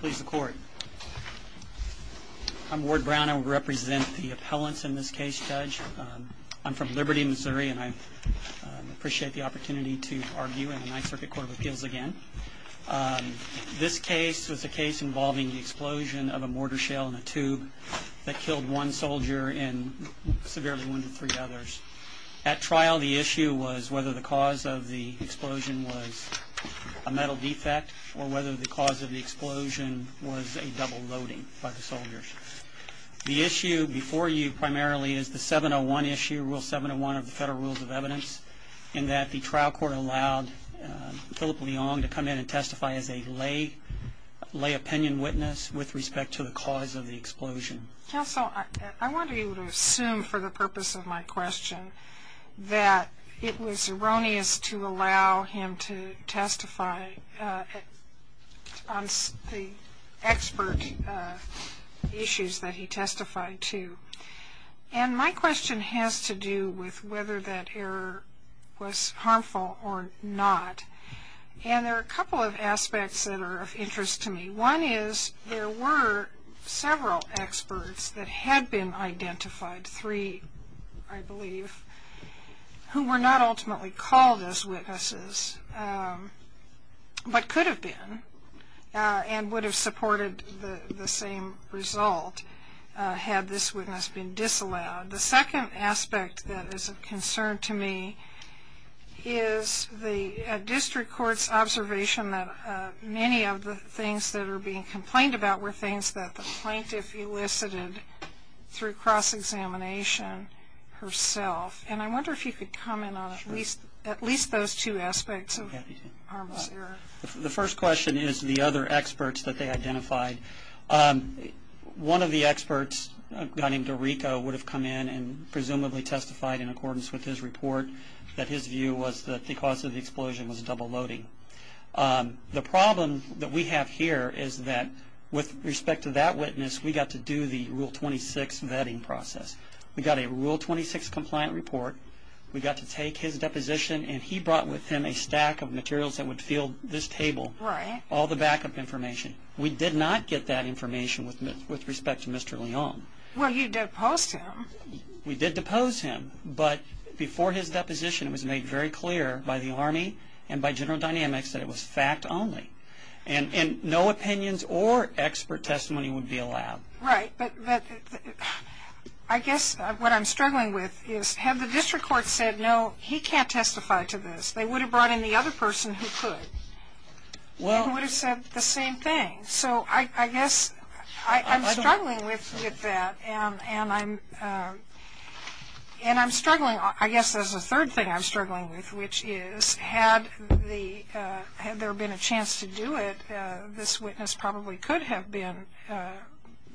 Please the court. I'm Ward Brown I represent the appellants in this case judge. I'm from Liberty, Missouri and I appreciate the opportunity to argue in the Ninth Circuit Court of Appeals again. This case was a case involving the explosion of a mortar shell in a tube that killed one soldier and severely wounded three others. At trial the issue was whether the cause of the explosion was a metal defect or whether the cause of the explosion was a double loading by the soldiers. The issue before you primarily is the 701 issue rule 701 of the Federal Rules of Evidence in that the trial court allowed Phillip Leong to come in and testify as a lay opinion witness with respect to the cause of the explosion. Counsel I want to assume for the purpose of my question that it was erroneous to allow him to testify on the expert issues that he testified to and my question has to do with whether that error was harmful or not and there are a couple of aspects that are of interest to me. One is there were several experts that had been identified three I believe who were not ultimately called as witnesses but could have been and would have supported the same result had this witness been disallowed. The second aspect that is of concern to me is the district courts observation that many of the things that are being complained about were things that the plaintiff elicited through cross-examination herself and I wonder if you could comment on at least at least those two aspects of the harmless error. The first question is the other experts that they identified. One of the experts a guy named Dorico would have come in and presumably testified in accordance with his report that his view was that the cause of the explosion was a double loading. The problem that we have here is that with respect to that witness we got to do the rule 26 vetting process. We got a rule 26 compliant report. We got to take his deposition and he brought with him a stack of materials that would fill this table. Right. All the backup information. We did not get that information with respect to Mr. Leong. Well you deposed him. We did depose him but before his deposition it was made very clear by the Army and by General Dynamics that it was fact only and no opinions or expert testimony would be allowed. Right but I guess what I'm struggling with is had the district court said no he can't testify to this they would have brought in the other person who could. Well. Who would have said the same thing so I guess I'm struggling with that and I'm and I'm struggling I guess there's a third thing I'm struggling with which is had the had there been a do it this witness probably could have been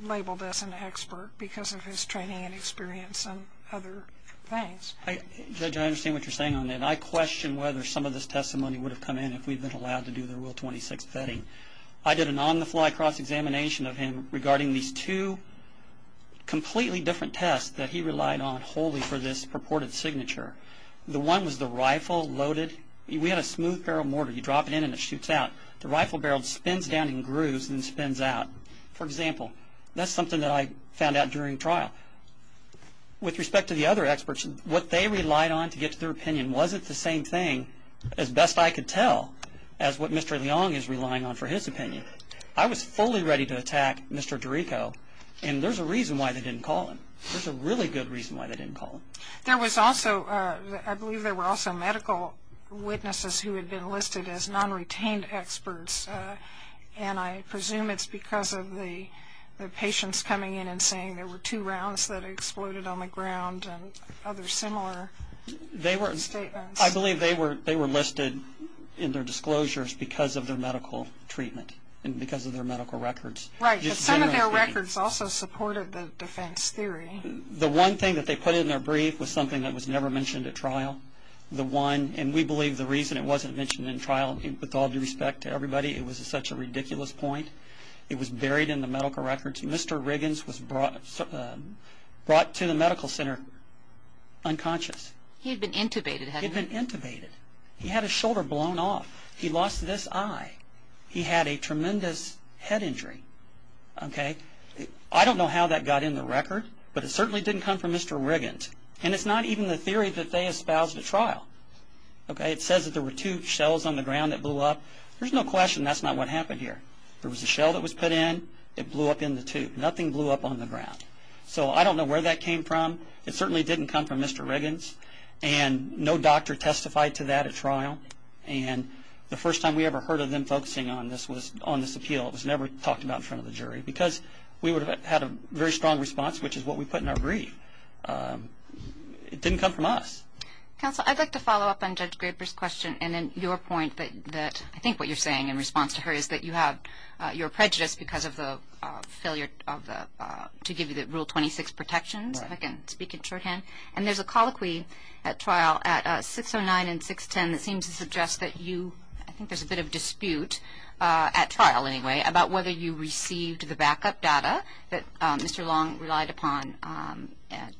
labeled as an expert because of his training and experience and other things. Judge I understand what you're saying on that. I question whether some of this testimony would have come in if we've been allowed to do the rule 26 vetting. I did an on-the-fly cross-examination of him regarding these two completely different tests that he relied on wholly for this purported signature. The one was the rifle loaded. We had a smooth barrel mortar. You drop it in and it spins down in grooves and spins out. For example that's something that I found out during trial. With respect to the other experts what they relied on to get to their opinion wasn't the same thing as best I could tell as what Mr. Leong is relying on for his opinion. I was fully ready to attack Mr. Dorico and there's a reason why they didn't call him. There's a really good reason why they didn't call him. There was also I believe there were also medical witnesses who had been listed as non-retained experts and I presume it's because of the patients coming in and saying there were two rounds that exploded on the ground and other similar statements. I believe they were listed in their disclosures because of their medical treatment and because of their medical records. Right but some of their records also supported the defense theory. The one thing that they put in their brief was something that was never mentioned at trial. The one and we believe the reason it wasn't mentioned in trial with all due respect to everybody it was such a ridiculous point. It was buried in the medical records. Mr. Riggins was brought to the medical center unconscious. He had been intubated hadn't he? But it certainly didn't come from Mr. Riggins and it's not even the theory that they espoused at trial. It says that there were two shells on the ground that blew up. There's no question that's not what happened here. There was a shell that was put in. It blew up in the tube. Nothing blew up on the ground. So I don't know where that came from. It certainly didn't come from Mr. Riggins. And no doctor testified to that at trial. And the first time we ever heard of them focusing on this was on this appeal. It was never talked about in front of the jury because we would have had a very strong response which is what we put in our brief. It didn't come from us. Counsel, I'd like to follow up on Judge Graber's question and then your point that I think what you're saying in response to her is that you have your prejudice because of the failure to give you the Rule 26 protections, if I can speak in shorthand. And there's a colloquy at trial at 609 and 610 that seems to suggest that you, I think there's a bit of dispute at trial anyway, about whether you received the backup data that Mr. Long relied upon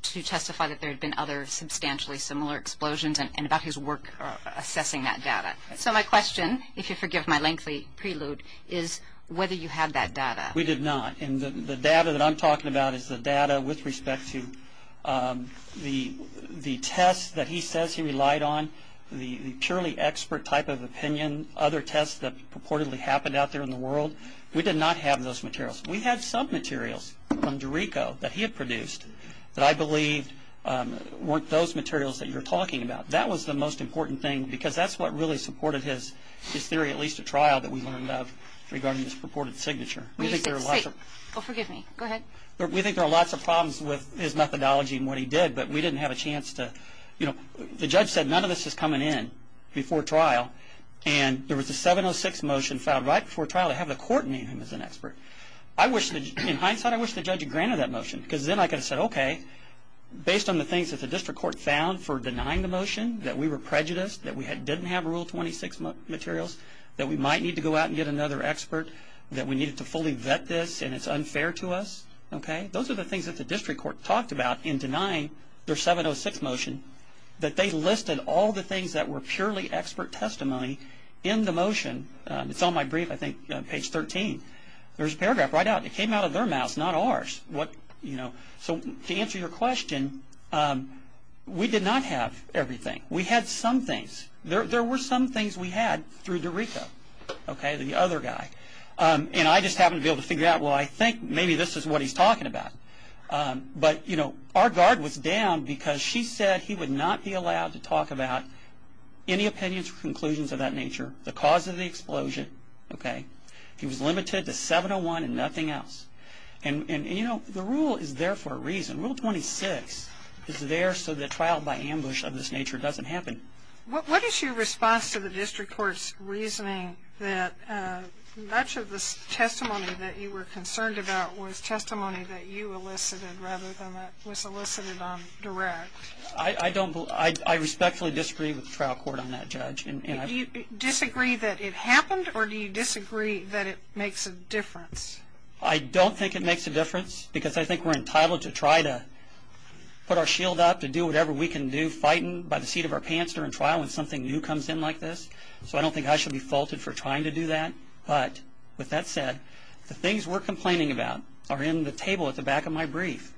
to testify that there had been other substantially similar explosions and about his work assessing that data. So my question, if you'll forgive my lengthy prelude, is whether you had that data. We did not. And the data that I'm talking about is the data with respect to the tests that he says he relied on, the purely expert type of opinion, other tests that purportedly happened out there in the world. We did not have those materials. We had some materials from Dorico that he had produced that I believe weren't those materials that you're talking about. That was the most important thing because that's what really supported his theory, at least at trial, that we learned of regarding this purported signature. We think there are lots of problems with his methodology and what he did, but we didn't have a chance to, you know, the judge said none of this is coming in before trial. And there was a 706 motion filed right before trial to have the court name him as an expert. In hindsight, I wish the judge had granted that motion because then I could have said, okay, based on the things that the district court found for denying the motion, that we were prejudiced, that we didn't have Rule 26 materials, that we might need to go out and get another expert, that we needed to fully vet this and it's unfair to us. Those are the things that the district court talked about in denying their 706 motion, that they listed all the things that were purely expert testimony in the motion. It's on my brief, I think, page 13. There's a paragraph right out. It came out of their mouths, not ours. To answer your question, we did not have everything. We had some things. There were some things we had through DeRico, the other guy. And I just happened to be able to figure out, well, I think maybe this is what he's talking about. But, you know, our guard was down because she said he would not be allowed to talk about any opinions or conclusions of that nature, the cause of the explosion, okay. He was limited to 701 and nothing else. And, you know, the rule is there for a reason. Rule 26 is there so that trial by ambush of this nature doesn't happen. What is your response to the district court's reasoning that much of the testimony that you were concerned about was testimony that you elicited rather than that was elicited on direct? I respectfully disagree with the trial court on that, Judge. Do you disagree that it happened or do you disagree that it makes a difference? I don't think it makes a difference because I think we're entitled to try to put our shield up to do whatever we can do fighting by the seat of our pants during trial when something new comes in like this. So I don't think I should be faulted for trying to do that. But with that said, the things we're complaining about are in the table at the back of my brief.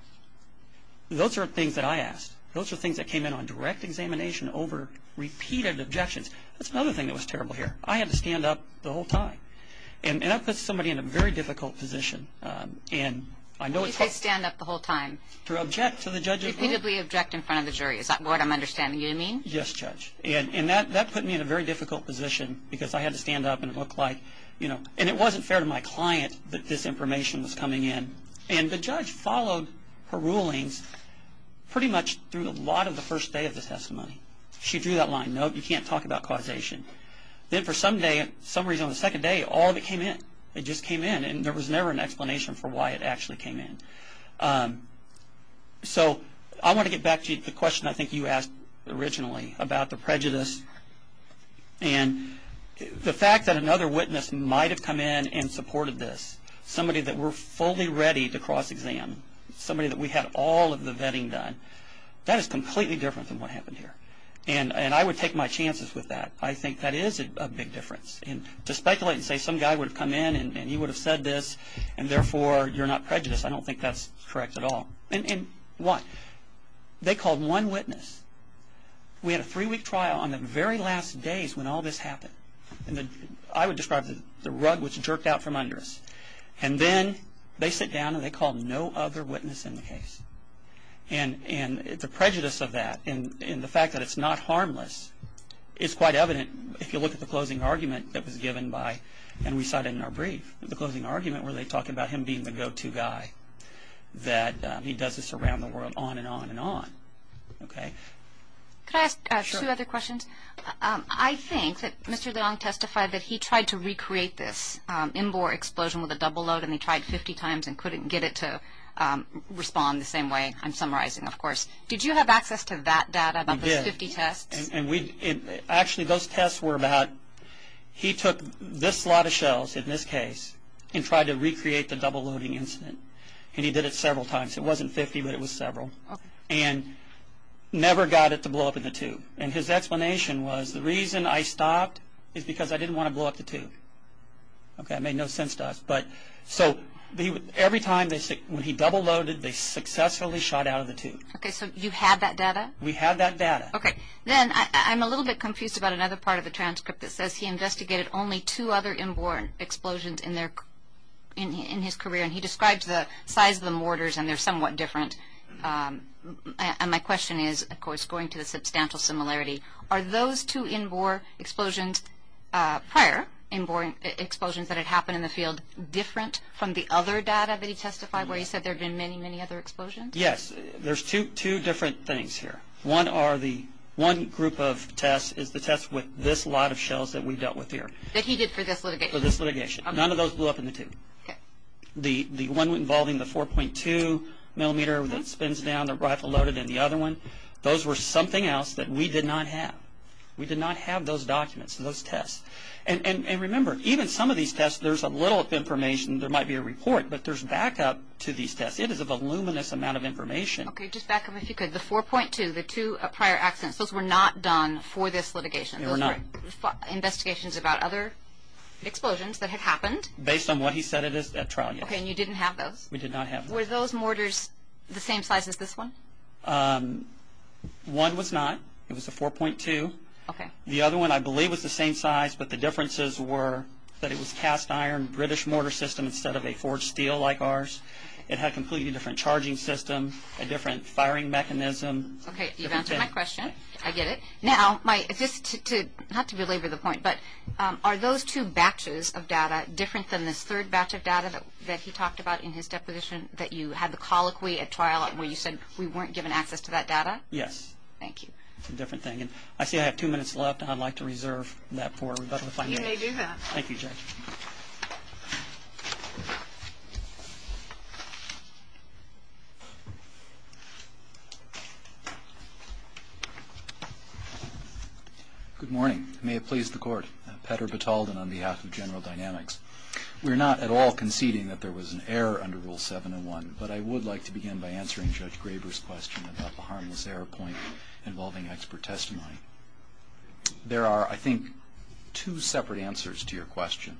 Those are things that I asked. Those are things that came in on direct examination over repeated objections. That's another thing that was terrible here. I had to stand up the whole time. And that puts somebody in a very difficult position. You said stand up the whole time. To object to the judge's ruling. Repeatedly object in front of the jury. Is that what I'm understanding you mean? Yes, Judge. And that put me in a very difficult position because I had to stand up and look like, you know, and it wasn't fair to my client that this information was coming in. And the judge followed her rulings pretty much through a lot of the first day of the testimony. She drew that line, no, you can't talk about causation. Then for some day, some reason on the second day, all of it came in. It just came in. And there was never an explanation for why it actually came in. So I want to get back to the question I think you asked originally about the prejudice and the fact that another witness might have come in and supported this. Somebody that were fully ready to cross-exam. Somebody that we had all of the vetting done. That is completely different than what happened here. And I would take my chances with that. I think that is a big difference. And to speculate and say some guy would have come in and he would have said this and therefore you're not prejudiced, I don't think that's correct at all. And why? They called one witness. We had a three-week trial on the very last days when all this happened. I would describe the rug which jerked out from under us. And then they sit down and they called no other witness in the case. And the prejudice of that and the fact that it's not harmless is quite evident if you look at the closing argument that was given by, and we cited in our brief, the closing argument where they talk about him being the go-to guy, that he does this around the world on and on and on. Okay? Can I ask two other questions? Sure. I think that Mr. Leong testified that he tried to recreate this in-bore explosion with a double load and he tried 50 times and couldn't get it to respond the same way I'm summarizing, of course. Did you have access to that data about those 50 tests? We did. Actually, those tests were about he took this lot of shells in this case and tried to recreate the double loading incident. And he did it several times. It wasn't 50, but it was several. And never got it to blow up in the tube. And his explanation was the reason I stopped is because I didn't want to blow up the tube. Okay? It made no sense to us. So every time when he double loaded, they successfully shot out of the tube. Okay. So you had that data? We had that data. Okay. Then I'm a little bit confused about another part of the transcript that says he investigated only two other in-bore explosions in his career. And he describes the size of the mortars and they're somewhat different. And my question is, of course, going to the substantial similarity, are those two in-bore explosions prior, in-bore explosions that had happened in the field, different from the other data that he testified where he said there had been many, many other explosions? Yes. There's two different things here. One group of tests is the test with this lot of shells that we dealt with here. That he did for this litigation. For this litigation. None of those blew up in the tube. Okay. The one involving the 4.2 millimeter that spins down, the rifle loaded, and the other one, those were something else that we did not have. We did not have those documents, those tests. And remember, even some of these tests, there's a little information. There might be a report, but there's backup to these tests. It is a voluminous amount of information. Okay. Just back up if you could. The 4.2, the two prior accidents, those were not done for this litigation. They were not. Investigations about other explosions that had happened. Based on what he said at trial, yes. Okay. And you didn't have those? We did not have those. Were those mortars the same size as this one? One was not. It was a 4.2. Okay. The other one, I believe, was the same size, but the differences were that it was cast iron, British mortar system instead of a forged steel like ours. It had a completely different charging system, a different firing mechanism. Okay. You've answered my question. I get it. Now, just to, not to belabor the point, but are those two batches of data different than this third batch of data that he talked about in his deposition that you had the colloquy at trial where you said we weren't given access to that data? Yes. Thank you. That's a different thing. I see I have two minutes left, and I'd like to reserve that for everybody. You may do that. Thank you, Judge. Good morning. May it please the Court. Petter Battaldon on behalf of General Dynamics. We're not at all conceding that there was an error under Rule 701, but I would like to begin by answering Judge Graber's question about the harmless error point involving expert testimony. There are, I think, two separate answers to your question.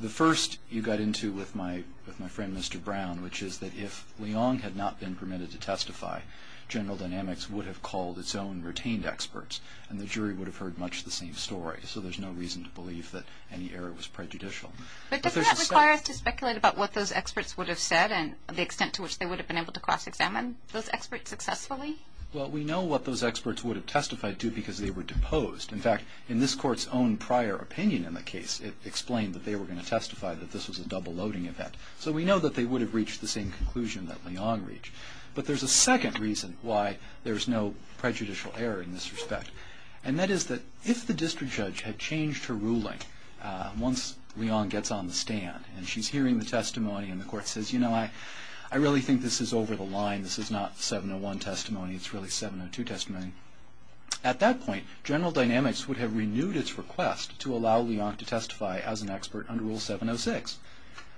The first you got into with my friend, Mr. Brown, which is that if Leong had not been permitted to testify, General Dynamics would have called its own retained experts, and the jury would have heard much the same story. So there's no reason to believe that any error was prejudicial. But doesn't that require us to speculate about what those experts would have said and the extent to which they would have been able to cross-examine those experts successfully? Well, we know what those experts would have testified to because they were deposed. In fact, in this Court's own prior opinion in the case, it explained that they were going to testify that this was a double-loading event. So we know that they would have reached the same conclusion that Leong reached. But there's a second reason why there's no prejudicial error in this respect, and that is that if the district judge had changed her ruling once Leong gets on the stand and she's hearing the testimony and the Court says, you know, I really think this is over the line, this is not 701 testimony, it's really 702 testimony, at that point General Dynamics would have renewed its request to allow Leong to testify as an expert under Rule 706.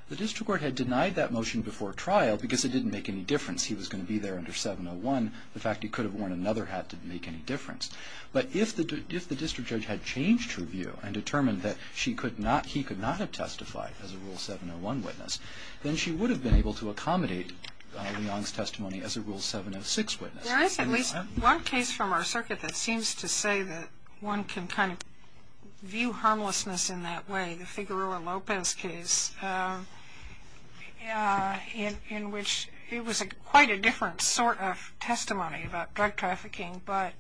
The district court had denied that motion before trial because it didn't make any difference. He was going to be there under 701. The fact he could have worn another hat didn't make any difference. But if the district judge had changed her view and determined that she could not, he could not have testified as a Rule 701 witness, then she would have been able to accommodate Leong's testimony as a Rule 706 witness. There is at least one case from our circuit that seems to say that one can kind of view harmlessness in that way. The Figueroa Lopez case in which it was quite a different sort of testimony about drug trafficking, but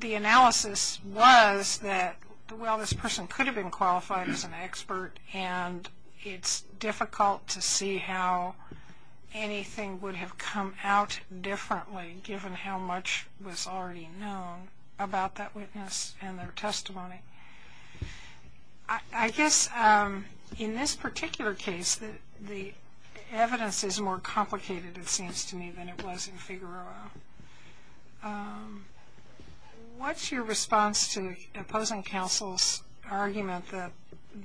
the analysis was that, well, this person could have been qualified as an expert and it's difficult to see how anything would have come out differently given how much was already known about that witness and their testimony. I guess in this particular case, the evidence is more complicated, it seems to me, than it was in Figueroa. What's your response to opposing counsel's argument that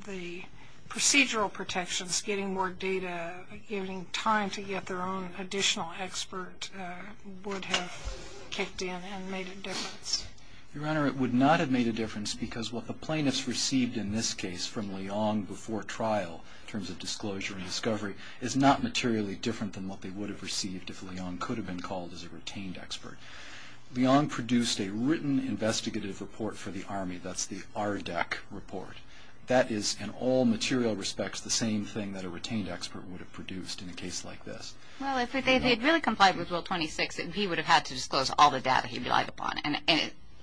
the procedural protections, getting more data, giving time to get their own additional expert, would have kicked in and made a difference? Your Honor, it would not have made a difference because what the plaintiffs received in this case from Leong before trial, in terms of disclosure and discovery, is not materially different than what they would have received if Leong could have been called as a retained expert. Leong produced a written investigative report for the Army, that's the RDAC report. That is, in all material respects, the same thing that a retained expert would have produced in a case like this. Well, if they had really complied with Rule 26, then he would have had to disclose all the data he relied upon, and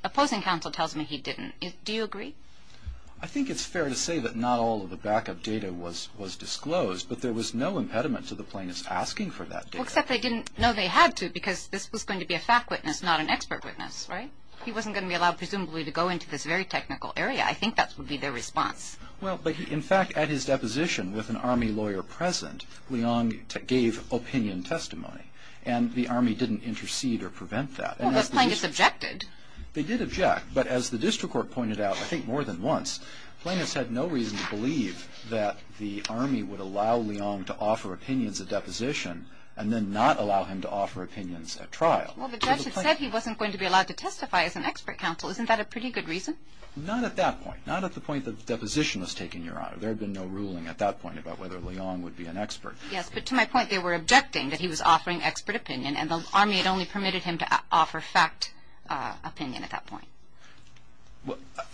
opposing counsel tells me he didn't. Do you agree? I think it's fair to say that not all of the backup data was disclosed, but there was no impediment to the plaintiffs asking for that data. Well, except they didn't know they had to because this was going to be a fact witness, not an expert witness, right? He wasn't going to be allowed, presumably, to go into this very technical area. I think that would be their response. Well, in fact, at his deposition, with an Army lawyer present, Leong gave opinion testimony, and the Army didn't intercede or prevent that. Well, those plaintiffs objected. They did object, but as the district court pointed out, I think more than once, plaintiffs had no reason to believe that the Army would allow Leong to offer opinions at deposition and then not allow him to offer opinions at trial. Well, the judge had said he wasn't going to be allowed to testify as an expert counsel. Isn't that a pretty good reason? Not at that point. Not at the point that the deposition was taken, Your Honor. There had been no ruling at that point about whether Leong would be an expert. Yes, but to my point, they were objecting that he was offering expert opinion, and the Army had only permitted him to offer fact opinion at that point.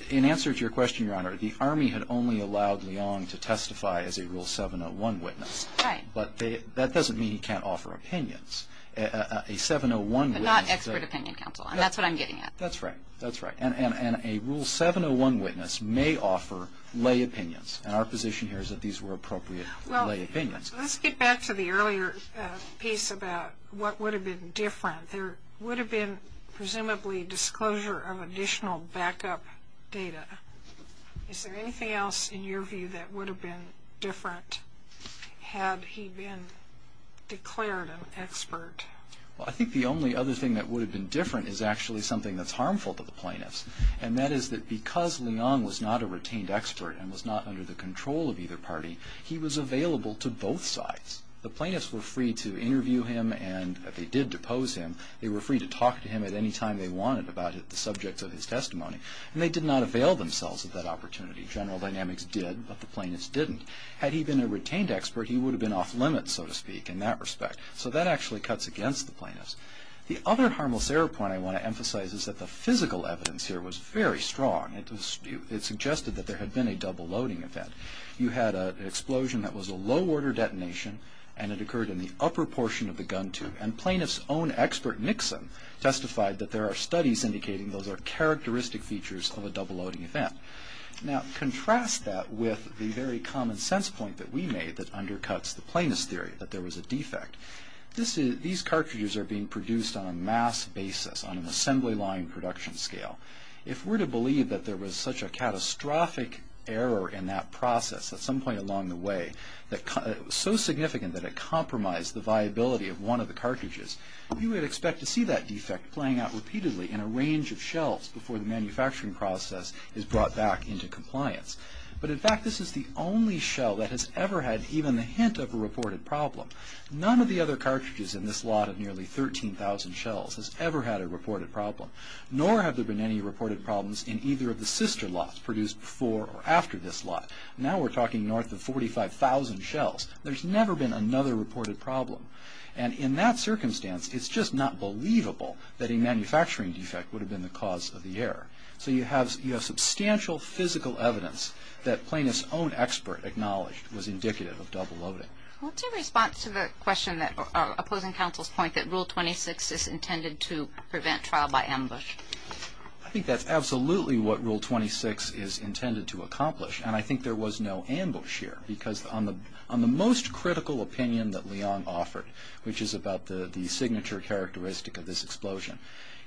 In answer to your question, Your Honor, the Army had only allowed Leong to testify as a Rule 701 witness. Right. But that doesn't mean he can't offer opinions. A 701 witness... But not expert opinion counsel, and that's what I'm getting at. That's right. That's right. And a Rule 701 witness may offer lay opinions, and our position here is that these were appropriate lay opinions. Let's get back to the earlier piece about what would have been different. There would have been presumably disclosure of additional backup data. Is there anything else in your view that would have been different had he been declared an expert? Well, I think the only other thing that would have been different is actually something that's harmful to the plaintiffs, and that is that because Leong was not a retained expert and was not under the control of either party, he was available to both sides. The plaintiffs were free to interview him, and if they did depose him, they were free to talk to him at any time they wanted about the subjects of his testimony, and they did not avail themselves of that opportunity. General Dynamics did, but the plaintiffs didn't. Had he been a retained expert, he would have been off-limits, so to speak, in that respect. So that actually cuts against the plaintiffs. The other harmless error point I want to emphasize is that the physical evidence here was very strong. It suggested that there had been a double-loading event. You had an explosion that was a low-order detonation, and it occurred in the upper portion of the gun tube, and plaintiffs' own expert, Nixon, testified that there are studies indicating those are characteristic features of a double-loading event. Now, contrast that with the very common sense point that we made that undercuts the plaintiffs' theory, that there was a defect. These cartridges are being produced on a mass basis, on an assembly-line production scale. If we're to believe that there was such a catastrophic error in that process at some point along the way, so significant that it compromised the viability of one of the cartridges, you would expect to see that defect playing out repeatedly in a range of shells before the manufacturing process is brought back into compliance. But, in fact, this is the only shell that has ever had even the hint of a reported problem. None of the other cartridges in this lot of nearly 13,000 shells has ever had a reported problem, nor have there been any reported problems in either of the sister lots produced before or after this lot. Now we're talking north of 45,000 shells. There's never been another reported problem. And in that circumstance, it's just not believable that a manufacturing defect would have been the cause of the error. So you have substantial physical evidence that plaintiffs' own expert acknowledged was indicative of double-loading. What's your response to the question opposing counsel's point that Rule 26 is intended to prevent trial by ambush? I think that's absolutely what Rule 26 is intended to accomplish. And I think there was no ambush here, because on the most critical opinion that Leong offered, which is about the signature characteristic of this explosion,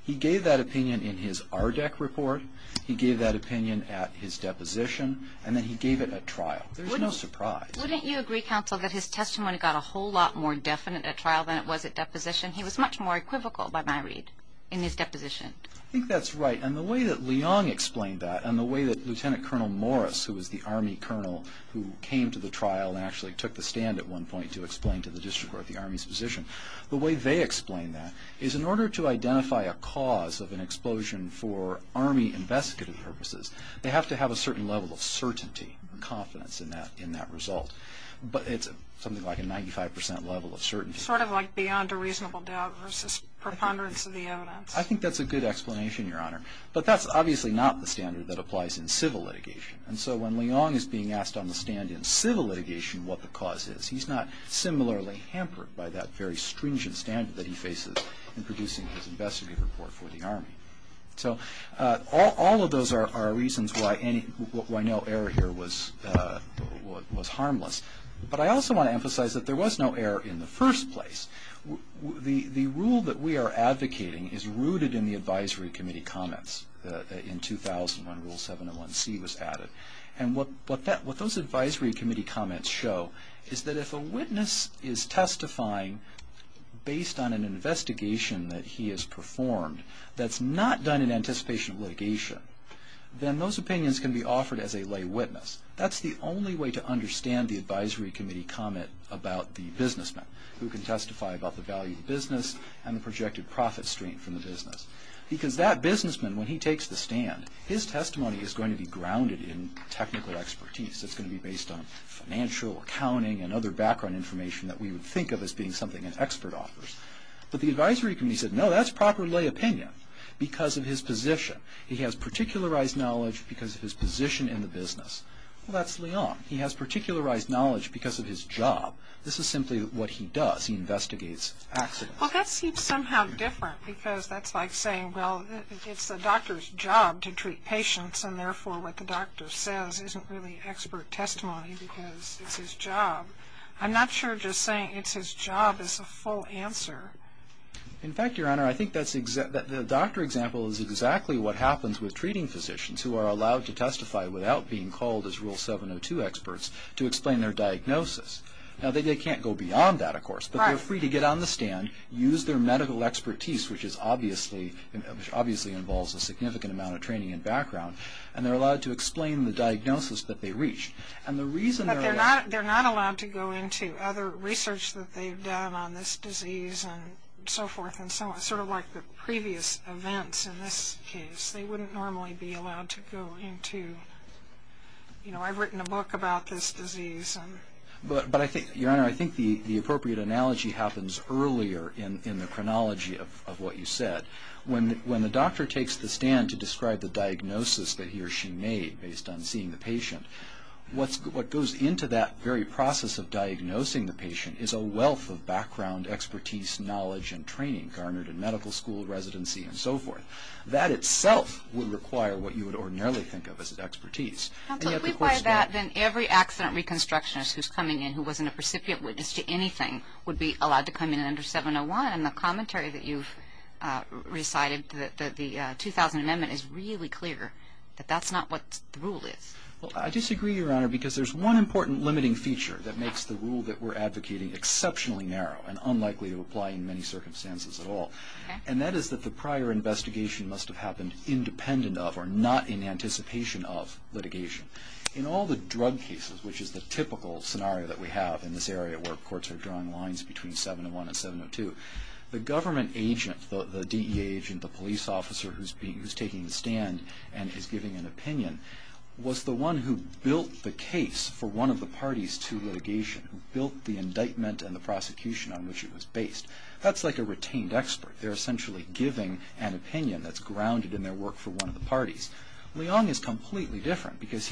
he gave that opinion in his ARDEC report, he gave that opinion at his deposition, and then he gave it at trial. There's no surprise. Wouldn't you agree, counsel, that his testimony got a whole lot more definite at trial than it was at deposition? He was much more equivocal, by my read, in his deposition. I think that's right. And the way that Leong explained that and the way that Lt. Col. Morris, who was the Army colonel who came to the trial and actually took the stand at one point to explain to the district court the Army's position, the way they explained that is in order to identify a cause of an explosion for Army investigative purposes, they have to have a certain level of certainty or confidence in that result. But it's something like a 95% level of certainty. Sort of like beyond a reasonable doubt versus preponderance of the evidence. I think that's a good explanation, Your Honor. But that's obviously not the standard that applies in civil litigation. And so when Leong is being asked on the stand in civil litigation what the cause is, he's not similarly hampered by that very stringent standard that he faces in producing his investigative report for the Army. So all of those are reasons why no error here was harmless. But I also want to emphasize that there was no error in the first place. The rule that we are advocating is rooted in the advisory committee comments in 2000 when Rule 701C was added. And what those advisory committee comments show is that if a witness is testifying based on an investigation that he has performed, that's not done in anticipation of litigation, then those opinions can be offered as a lay witness. That's the only way to understand the advisory committee comment about the businessman who can testify about the value of the business and the projected profit stream from the business. Because that businessman, when he takes the stand, his testimony is going to be grounded in technical expertise. It's going to be based on financial, accounting, and other background information that we would think of as being something an expert offers. But the advisory committee said, no, that's proper lay opinion because of his position. He has particularized knowledge because of his position in the business. Well, that's Leon. He has particularized knowledge because of his job. This is simply what he does. He investigates accidents. Well, that seems somehow different because that's like saying, well, it's the doctor's job to treat patients, and therefore what the doctor says isn't really expert testimony because it's his job. I'm not sure just saying it's his job is a full answer. In fact, Your Honor, I think the doctor example is exactly what happens with treating physicians who are allowed to testify without being called as Rule 702 experts to explain their diagnosis. Now, they can't go beyond that, of course, but they're free to get on the stand, use their medical expertise, which obviously involves a significant amount of training and background, and they're allowed to explain the diagnosis that they reach. But they're not allowed to go into other research that they've done on this disease and so forth and sort of like the previous events in this case. They wouldn't normally be allowed to go into, you know, I've written a book about this disease. But, Your Honor, I think the appropriate analogy happens earlier in the chronology of what you said. When the doctor takes the stand to describe the diagnosis that he or she made based on seeing the patient, what goes into that very process of diagnosing the patient is a wealth of background, expertise, knowledge, and training garnered in medical school, residency, and so forth. That itself would require what you would ordinarily think of as expertise. If we apply that, then every accident reconstructionist who's coming in who wasn't a recipient witness to anything would be allowed to come in under 701. And the commentary that you've recited, the 2000 Amendment, is really clear that that's not what the rule is. Well, I disagree, Your Honor, because there's one important limiting feature that makes the rule that we're advocating exceptionally narrow and unlikely to apply in many circumstances at all. And that is that the prior investigation must have happened independent of or not in anticipation of litigation. In all the drug cases, which is the typical scenario that we have in this area where courts are drawing lines between 701 and 702, the government agent, the DEA agent, the police officer who's taking the stand and is giving an opinion, was the one who built the case for one of the parties to litigation, who built the indictment and the prosecution on which it was based. That's like a retained expert. They're essentially giving an opinion that's grounded in their work for one of the parties. Leong is completely different because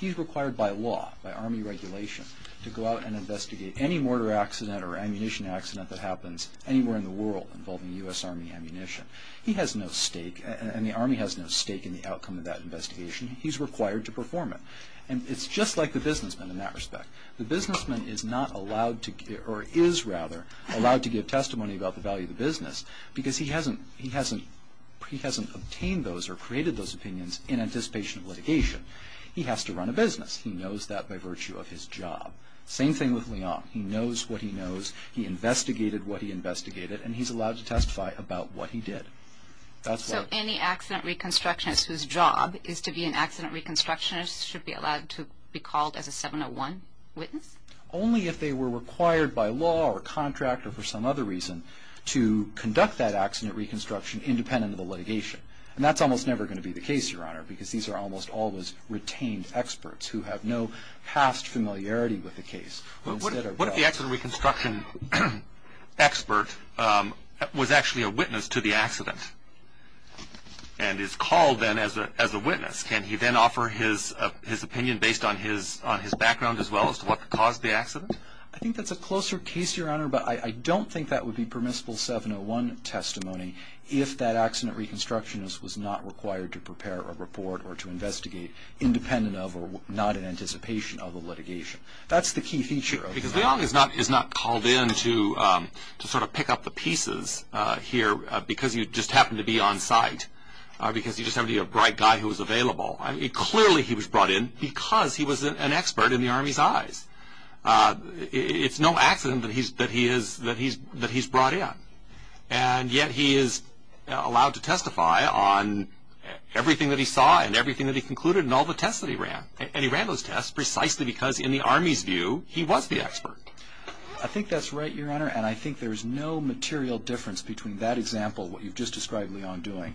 he's required by law, by Army regulation, to go out and investigate any mortar accident or ammunition accident that happens anywhere in the world involving U.S. Army ammunition. He has no stake, and the Army has no stake in the outcome of that investigation. He's required to perform it. And it's just like the businessman in that respect. The businessman is not allowed to give, or is rather, allowed to give testimony about the value of the business because he hasn't obtained those or created those opinions in anticipation of litigation. He has to run a business. He knows that by virtue of his job. Same thing with Leong. He knows what he knows. He investigated what he investigated, and he's allowed to testify about what he did. So any accident reconstructionist whose job is to be an accident reconstructionist should be allowed to be called as a 701 witness? Only if they were required by law or contract or for some other reason to conduct that accident reconstruction independent of the litigation. And that's almost never going to be the case, Your Honor, because these are almost always retained experts who have no past familiarity with the case. What if the accident reconstruction expert was actually a witness to the accident and is called then as a witness? Can he then offer his opinion based on his background as well as to what caused the accident? I think that's a closer case, Your Honor, but I don't think that would be permissible 701 testimony if that accident reconstructionist was not required to prepare a report or to investigate independent of or not in anticipation of a litigation. That's the key feature. Because Leong is not called in to sort of pick up the pieces here because you just happen to be on site, because you just happen to be a bright guy who was available. Clearly he was brought in because he was an expert in the Army's eyes. It's no accident that he's brought in, and yet he is allowed to testify on everything that he saw and everything that he concluded and all the tests that he ran. And he ran those tests precisely because in the Army's view he was the expert. I think that's right, Your Honor, and I think there's no material difference between that example, what you've just described Leong doing,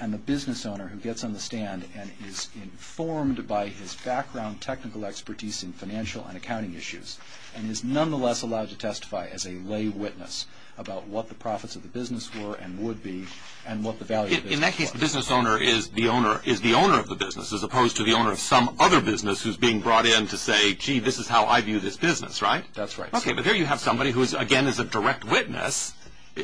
and the business owner who gets on the stand and is informed by his background, technical expertise in financial and accounting issues and is nonetheless allowed to testify as a lay witness about what the profits of the business were and would be and what the value of the business was. In that case, the business owner is the owner of the business as opposed to the owner of some other business who's being brought in to say, gee, this is how I view this business, right? That's right. Okay, but here you have somebody who, again, is a direct witness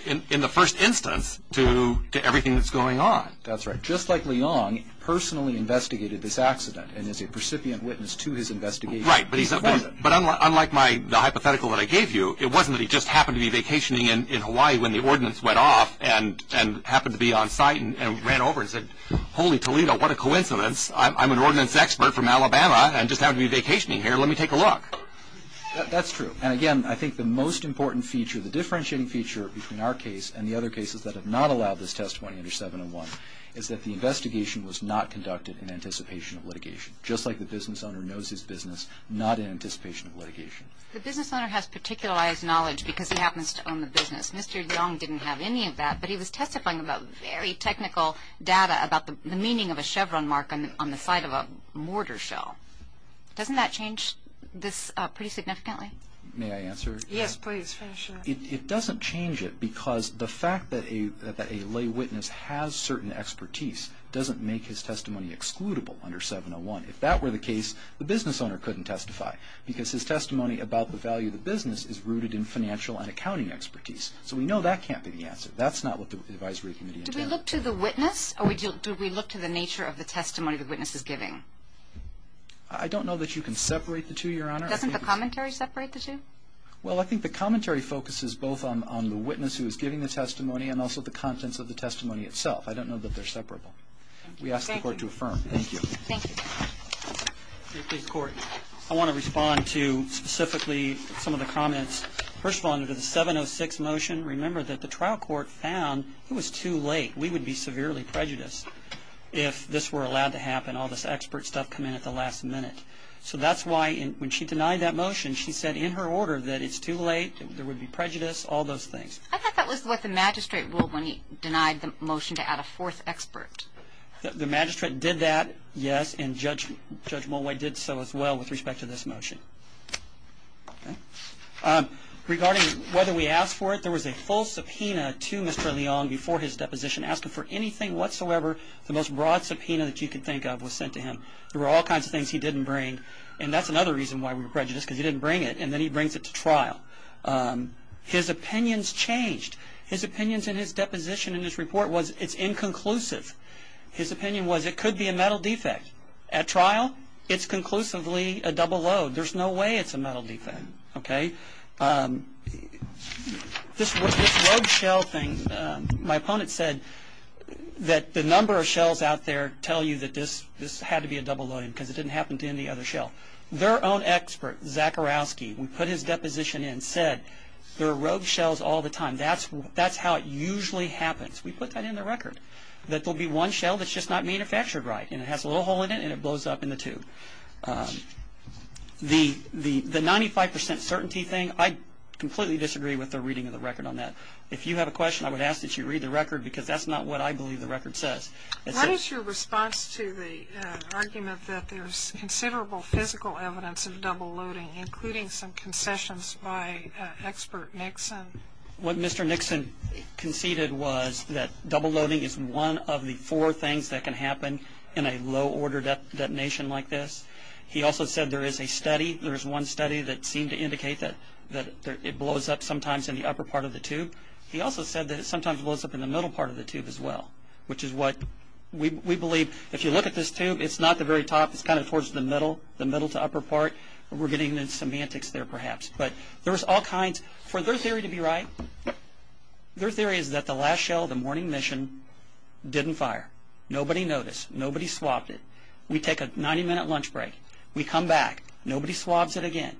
in the first instance to everything that's going on. That's right. Just like Leong personally investigated this accident and is a recipient witness to his investigation. Right, but unlike the hypothetical that I gave you, it wasn't that he just happened to be vacationing in Hawaii when the ordinance went off and happened to be on site and ran over and said, holy Toledo, what a coincidence. I'm an ordinance expert from Alabama and just happened to be vacationing here. Let me take a look. That's true, and again, I think the most important feature, the differentiating feature between our case and the other cases that have not allowed this test 20 under 701 is that the investigation was not conducted in anticipation of litigation. Just like the business owner knows his business, not in anticipation of litigation. The business owner has particularized knowledge because he happens to own the business. Mr. Leong didn't have any of that, but he was testifying about very technical data about the meaning of a Chevron mark on the side of a mortar shell. Doesn't that change this pretty significantly? May I answer? Yes, please. It doesn't change it because the fact that a lay witness has certain expertise doesn't make his testimony excludable under 701. If that were the case, the business owner couldn't testify because his testimony about the value of the business is rooted in financial and accounting expertise. So we know that can't be the answer. That's not what the advisory committee intended. Do we look to the witness, or do we look to the nature of the testimony the witness is giving? I don't know that you can separate the two, Your Honor. Doesn't the commentary separate the two? Well, I think the commentary focuses both on the witness who is giving the testimony and also the contents of the testimony itself. I don't know that they're separable. We ask the court to affirm. Thank you. Thank you. I want to respond to specifically some of the comments. First of all, under the 706 motion, remember that the trial court found it was too late. We would be severely prejudiced if this were allowed to happen, all this expert stuff come in at the last minute. So that's why when she denied that motion, she said in her order that it's too late, there would be prejudice, all those things. I thought that was what the magistrate ruled when he denied the motion to add a fourth expert. The magistrate did that, yes, and Judge Mulway did so as well with respect to this motion. Regarding whether we asked for it, there was a full subpoena to Mr. Leong before his deposition. Asked him for anything whatsoever, the most broad subpoena that you could think of was sent to him. There were all kinds of things he didn't bring, and that's another reason why we were prejudiced because he didn't bring it, and then he brings it to trial. His opinions changed. His opinions in his deposition in his report was it's inconclusive. His opinion was it could be a metal defect. At trial, it's conclusively a double load. There's no way it's a metal defect. This rogue shell thing, my opponent said that the number of shells out there tell you that this had to be a double load because it didn't happen to any other shell. Their own expert, Zakharovsky, when he put his deposition in, said there are rogue shells all the time. That's how it usually happens. We put that in the record, that there will be one shell that's just not manufactured right, and it has a little hole in it, and it blows up in the tube. The 95% certainty thing, I completely disagree with their reading of the record on that. If you have a question, I would ask that you read the record because that's not what I believe the record says. What is your response to the argument that there's considerable physical evidence of double loading, including some concessions by expert Nixon? What Mr. Nixon conceded was that double loading is one of the four things that can happen in a low-order detonation like this. He also said there is a study, there is one study that seemed to indicate that it blows up sometimes in the upper part of the tube. He also said that it sometimes blows up in the middle part of the tube as well, which is what we believe. If you look at this tube, it's not the very top. It's kind of towards the middle, the middle to upper part. We're getting the semantics there perhaps. For their theory to be right, their theory is that the last shell of the morning mission didn't fire. Nobody noticed. Nobody swabbed it. We take a 90-minute lunch break. We come back. Nobody swabs it again.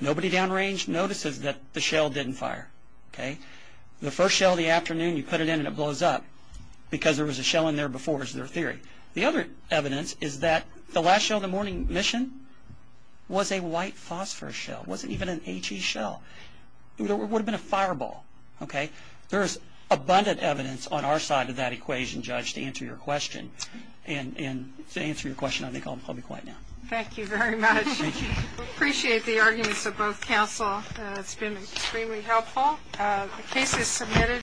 Nobody downrange notices that the shell didn't fire. The first shell of the afternoon, you put it in and it blows up because there was a shell in there before is their theory. The other evidence is that the last shell of the morning mission was a white phosphor shell. It wasn't even an HE shell. It would have been a fireball. There is abundant evidence on our side of that equation, Judge, to answer your question. To answer your question, I think I'll be quiet now. Thank you very much. Thank you. We appreciate the arguments of both counsel. It's been extremely helpful. The case is submitted.